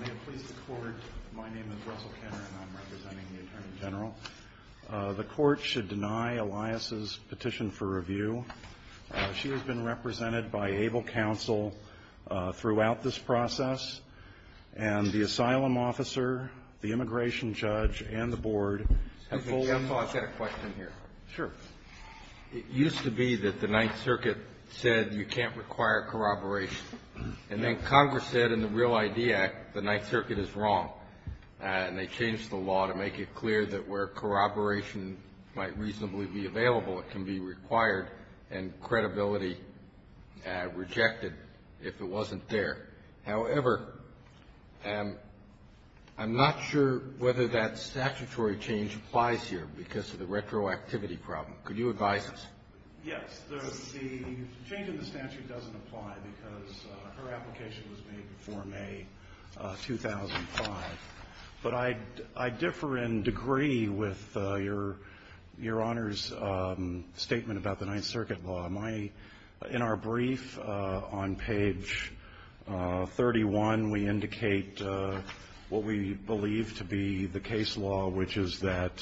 May it please the Court, my name is Russell Kenner and I'm representing the Attorney General. The Court should deny Elias' petition for review. She has been represented by ABLE Counsel throughout this process and the Asylum Officer, the Immigration Judge, and the Board have fully Excuse me, counsel, I've got a question here. Sure. It used to be that the Ninth Circuit said you can't require corroboration and then Congress said in the Real ID Act the Ninth Circuit is wrong and they changed the law to make it clear that where corroboration might reasonably be available it can be required and credibility rejected if it wasn't there. However, I'm not sure whether that statutory change applies here because of the retroactivity problem. Could you advise us? Yes. The change in the statute doesn't apply because her application was made before May 2005. But I differ in degree with Your Honor's statement about the Ninth Circuit law. In our brief on page 31, we indicate what we believe to be the case law, which is that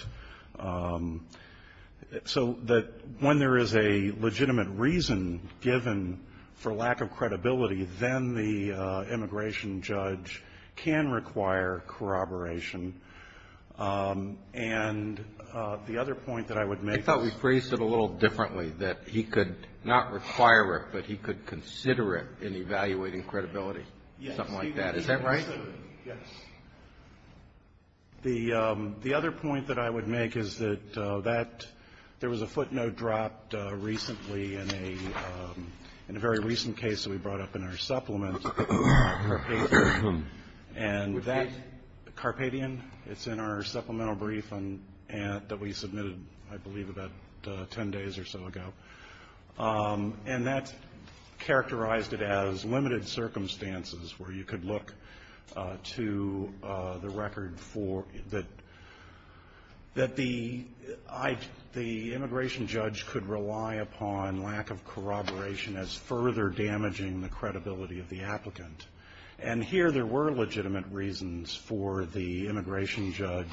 So that when there is a legitimate reason given for lack of credibility, then the Immigration Judge can require corroboration. And the other point that I would make is I thought we phrased it a little differently, that he could not require it, but he could consider it in evaluating credibility, something like that. Is that right? Yes. The other point that I would make is that there was a footnote dropped recently in a very recent case that we brought up in our supplement. And that Carpadian, it's in our supplemental brief that we submitted, I believe, about 10 days or so ago. And that characterized it as limited circumstances where you could look to the record for that the Immigration Judge could rely upon lack of corroboration as further damaging the credibility of the applicant. And here there were legitimate reasons for the Immigration Judge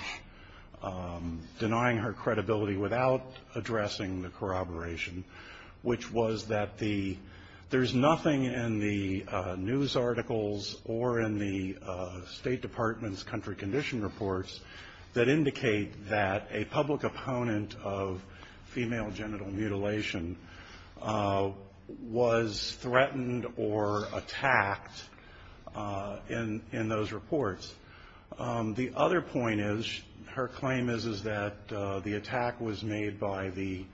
denying her credibility without addressing the corroboration, which was that there's nothing in the news articles or in the State Department's country condition reports that indicate that a public opponent of female genital mutilation was threatened or attacked in those reports. The other point is, her claim is, is that the attack was made by the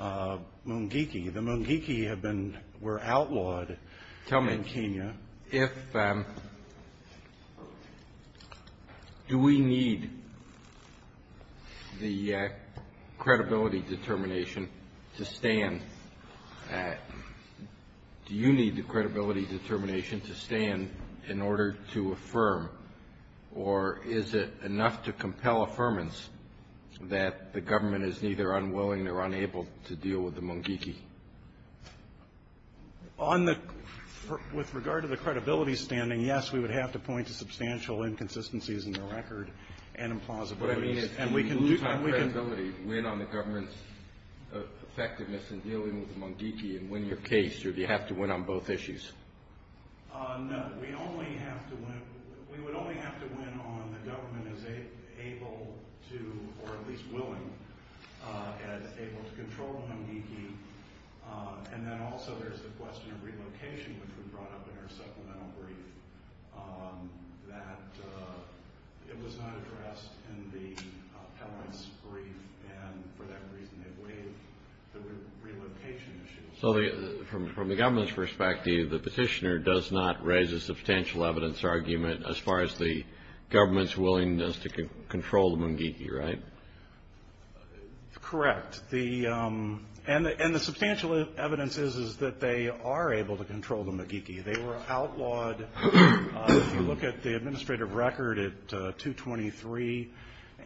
Mungiki. The Mungiki have been, were outlawed in Kenya. Tell me, if, do we need the credibility determination to stand, do you need the credibility determination to stand in order to affirm, or is it enough to compel affirmance that the government is neither unwilling or unable to deal with the Mungiki? On the, with regard to the credibility standing, yes, we would have to point to substantial inconsistencies in the record and implausibilities. What I mean is, can we lose our credibility, win on the government's effectiveness in dealing with the Mungiki and win your case, or do you have to win on both issues? No, we only have to win, we would only have to win on the government as able to, or at least willing, as able to control the Mungiki. And then also there's the question of relocation, which we brought up in our supplemental brief, that it was not addressed in the Pell Grant's brief, and for that reason it waived the relocation issue. So from the government's perspective, the petitioner does not raise a substantial evidence argument as far as the government's willingness to control the Mungiki, right? Correct. And the substantial evidence is that they are able to control the Mungiki. They were outlawed, if you look at the administrative record at 223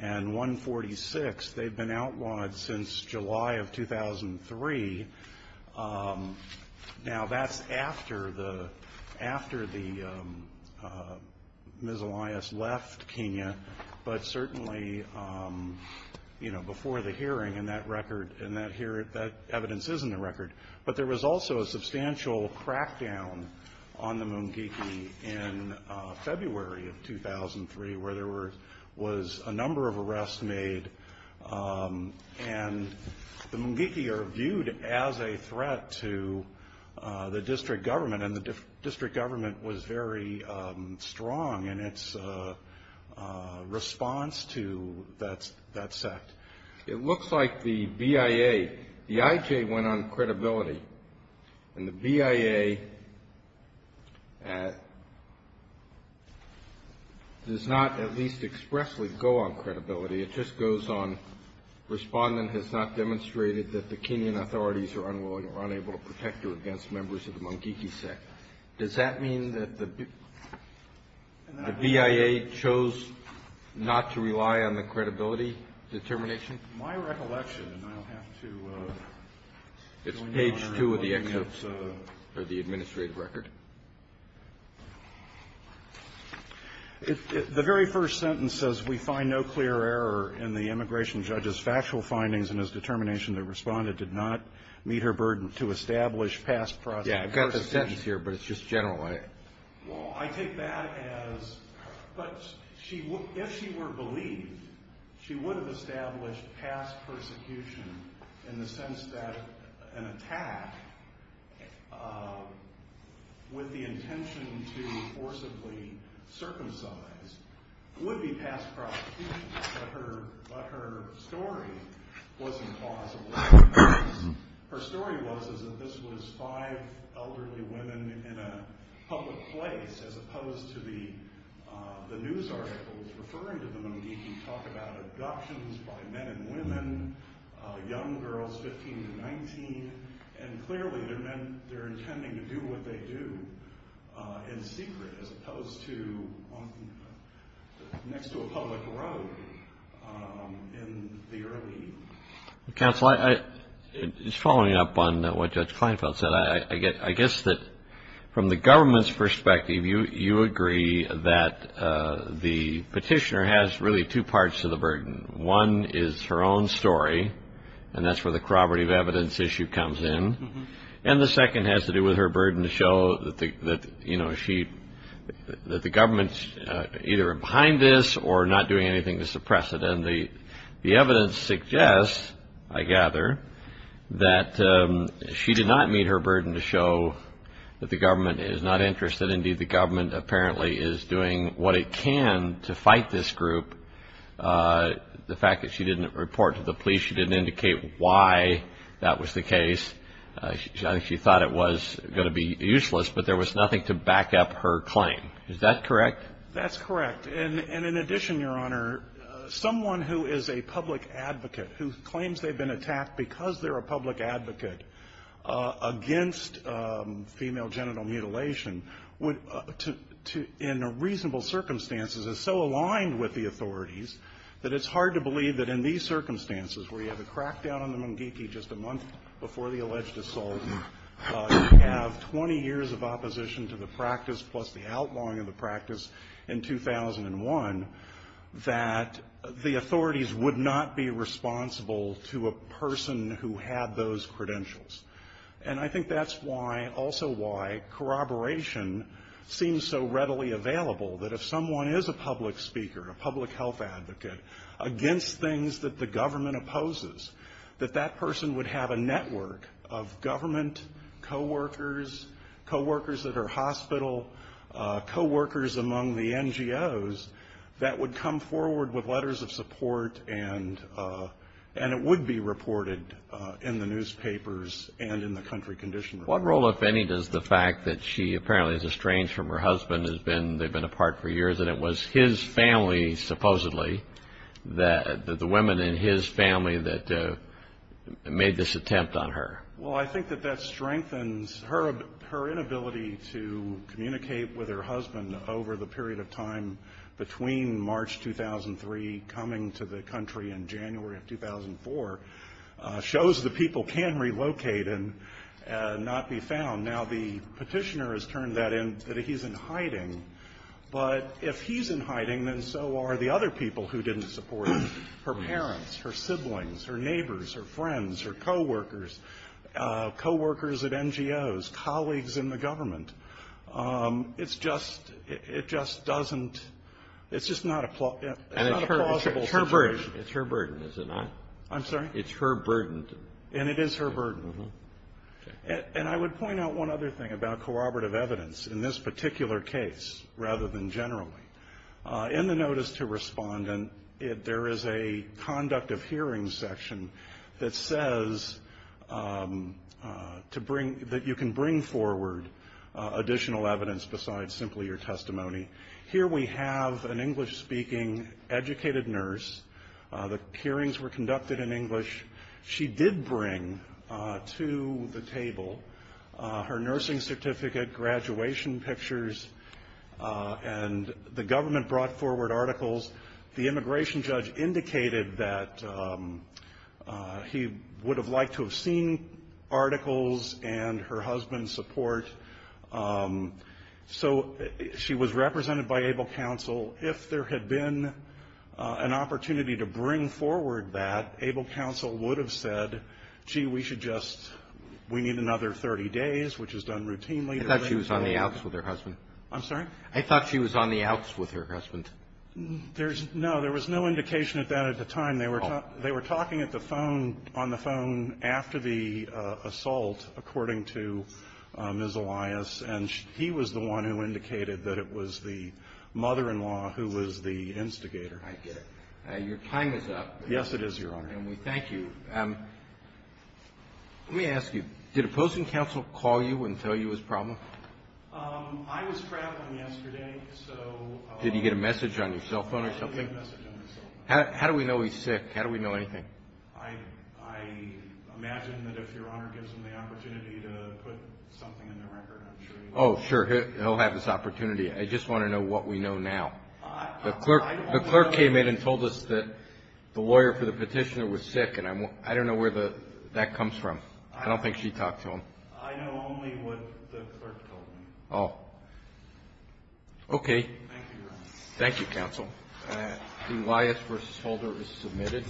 and 146, they've been outlawed since July of 2003. Now that's after the, after the, Ms. Elias left Kenya, but certainly, you know, before the hearing and that record, and that evidence is in the record. But there was also a substantial crackdown on the Mungiki in February of 2003, where there was a number of arrests made, and the Mungiki are viewed as a threat to the district government, and the district government was very strong in its response to that sect. It looks like the BIA, the IJ went on credibility, and the BIA does not at least expressly go on credibility, it just goes on, respondent has not demonstrated that the Kenyan authorities are unwilling or unable to protect her against members of the Mungiki sect. Does that mean that the BIA chose not to rely on the credibility determination? My recollection, and I'll have to... It's page two of the administrative record. The very first sentence says, we find no clear error in the immigration judge's factual findings and his determination the respondent did not meet her burden to establish past... Yeah, I've got a sentence here, but it's just general, right? Well, I take that as... But if she were believed, she would have established past persecution in the sense that an attack with the intention to forcibly circumcise would be past prosecution, but her story wasn't plausible. Her story was that this was five elderly women in a public place as opposed to the news articles referring to the Mungiki talk about abductions by men and women, young girls, 15 to 19, and clearly they're intending to do what they do in secret as opposed to next to a public road in the early... Counsel, just following up on what Judge Kleinfeld said, I guess that from the government's perspective, you agree that the petitioner has really two parts to the burden. One is her own story, and that's where the corroborative evidence issue comes in, and the second has to do with her burden to show that the government's either behind this or not doing anything to suppress it. And the evidence suggests, I gather, that she did not meet her burden to show that the government is not interested. Indeed, the government apparently is doing what it can to fight this group. The fact that she didn't report to the police, she didn't indicate why that was the case. She thought it was going to be useless, but there was nothing to back up her claim. Is that correct? That's correct. And in addition, Your Honor, someone who is a public advocate, who claims they've been attacked because they're a public advocate, against female genital mutilation, in reasonable circumstances is so aligned with the authorities that it's hard to believe that in these circumstances, where you have a crackdown on the mungiki just a month before the alleged assault, you have 20 years of opposition to the practice plus the outlawing of the practice in 2001, that the authorities would not be responsible to a person who had those credentials. And I think that's also why corroboration seems so readily available, that if someone is a public speaker, a public health advocate, against things that the government opposes, that that person would have a network of government coworkers, coworkers at her hospital, coworkers among the NGOs, that would come forward with letters of support, and it would be reported in the newspapers and in the country condition report. What role, if any, does the fact that she apparently is estranged from her husband, they've been apart for years, and it was his family, supposedly, the women in his family, that made this attempt on her? Well, I think that that strengthens her inability to communicate with her husband over the period of time between March 2003, coming to the country in January of 2004, shows the people can relocate and not be found. Now, the petitioner has turned that in, that he's in hiding. But if he's in hiding, then so are the other people who didn't support her, her parents, her siblings, her neighbors, her friends, her coworkers, coworkers at NGOs, colleagues in the government. It just doesn't – it's just not a plausible situation. And it's her burden, is it not? I'm sorry? It's her burden. And it is her burden. And I would point out one other thing about corroborative evidence in this particular case, rather than generally. In the notice to respondent, there is a conduct of hearing section that says to bring – that you can bring forward additional evidence besides simply your testimony. Here we have an English-speaking, educated nurse. The hearings were conducted in English. She did bring to the table her nursing certificate, graduation pictures, and the government brought forward articles. The immigration judge indicated that he would have liked to have seen articles and her husband's support. So she was represented by ABLE counsel. If there had been an opportunity to bring forward that, ABLE counsel would have said, gee, we should just – we need another 30 days, which is done routinely. I thought she was on the outs with her husband. I'm sorry? I thought she was on the outs with her husband. No, there was no indication of that at the time. They were talking on the phone after the assault, according to Ms. Elias, and he was the one who indicated that it was the mother-in-law who was the instigator. I get it. Your time is up. Yes, it is, Your Honor. And we thank you. Let me ask you, did opposing counsel call you and tell you his problem? I was traveling yesterday. Did he get a message on your cell phone or something? He did get a message on my cell phone. How do we know he's sick? How do we know anything? I imagine that if Your Honor gives him the opportunity to put something in the record, I'm sure he will. Oh, sure, he'll have this opportunity. I just want to know what we know now. The clerk came in and told us that the lawyer for the petitioner was sick, and I don't know where that comes from. I don't think she talked to him. I know only what the clerk told me. Okay. Thank you, Your Honor. Thank you, counsel. Elias v. Holder is submitted.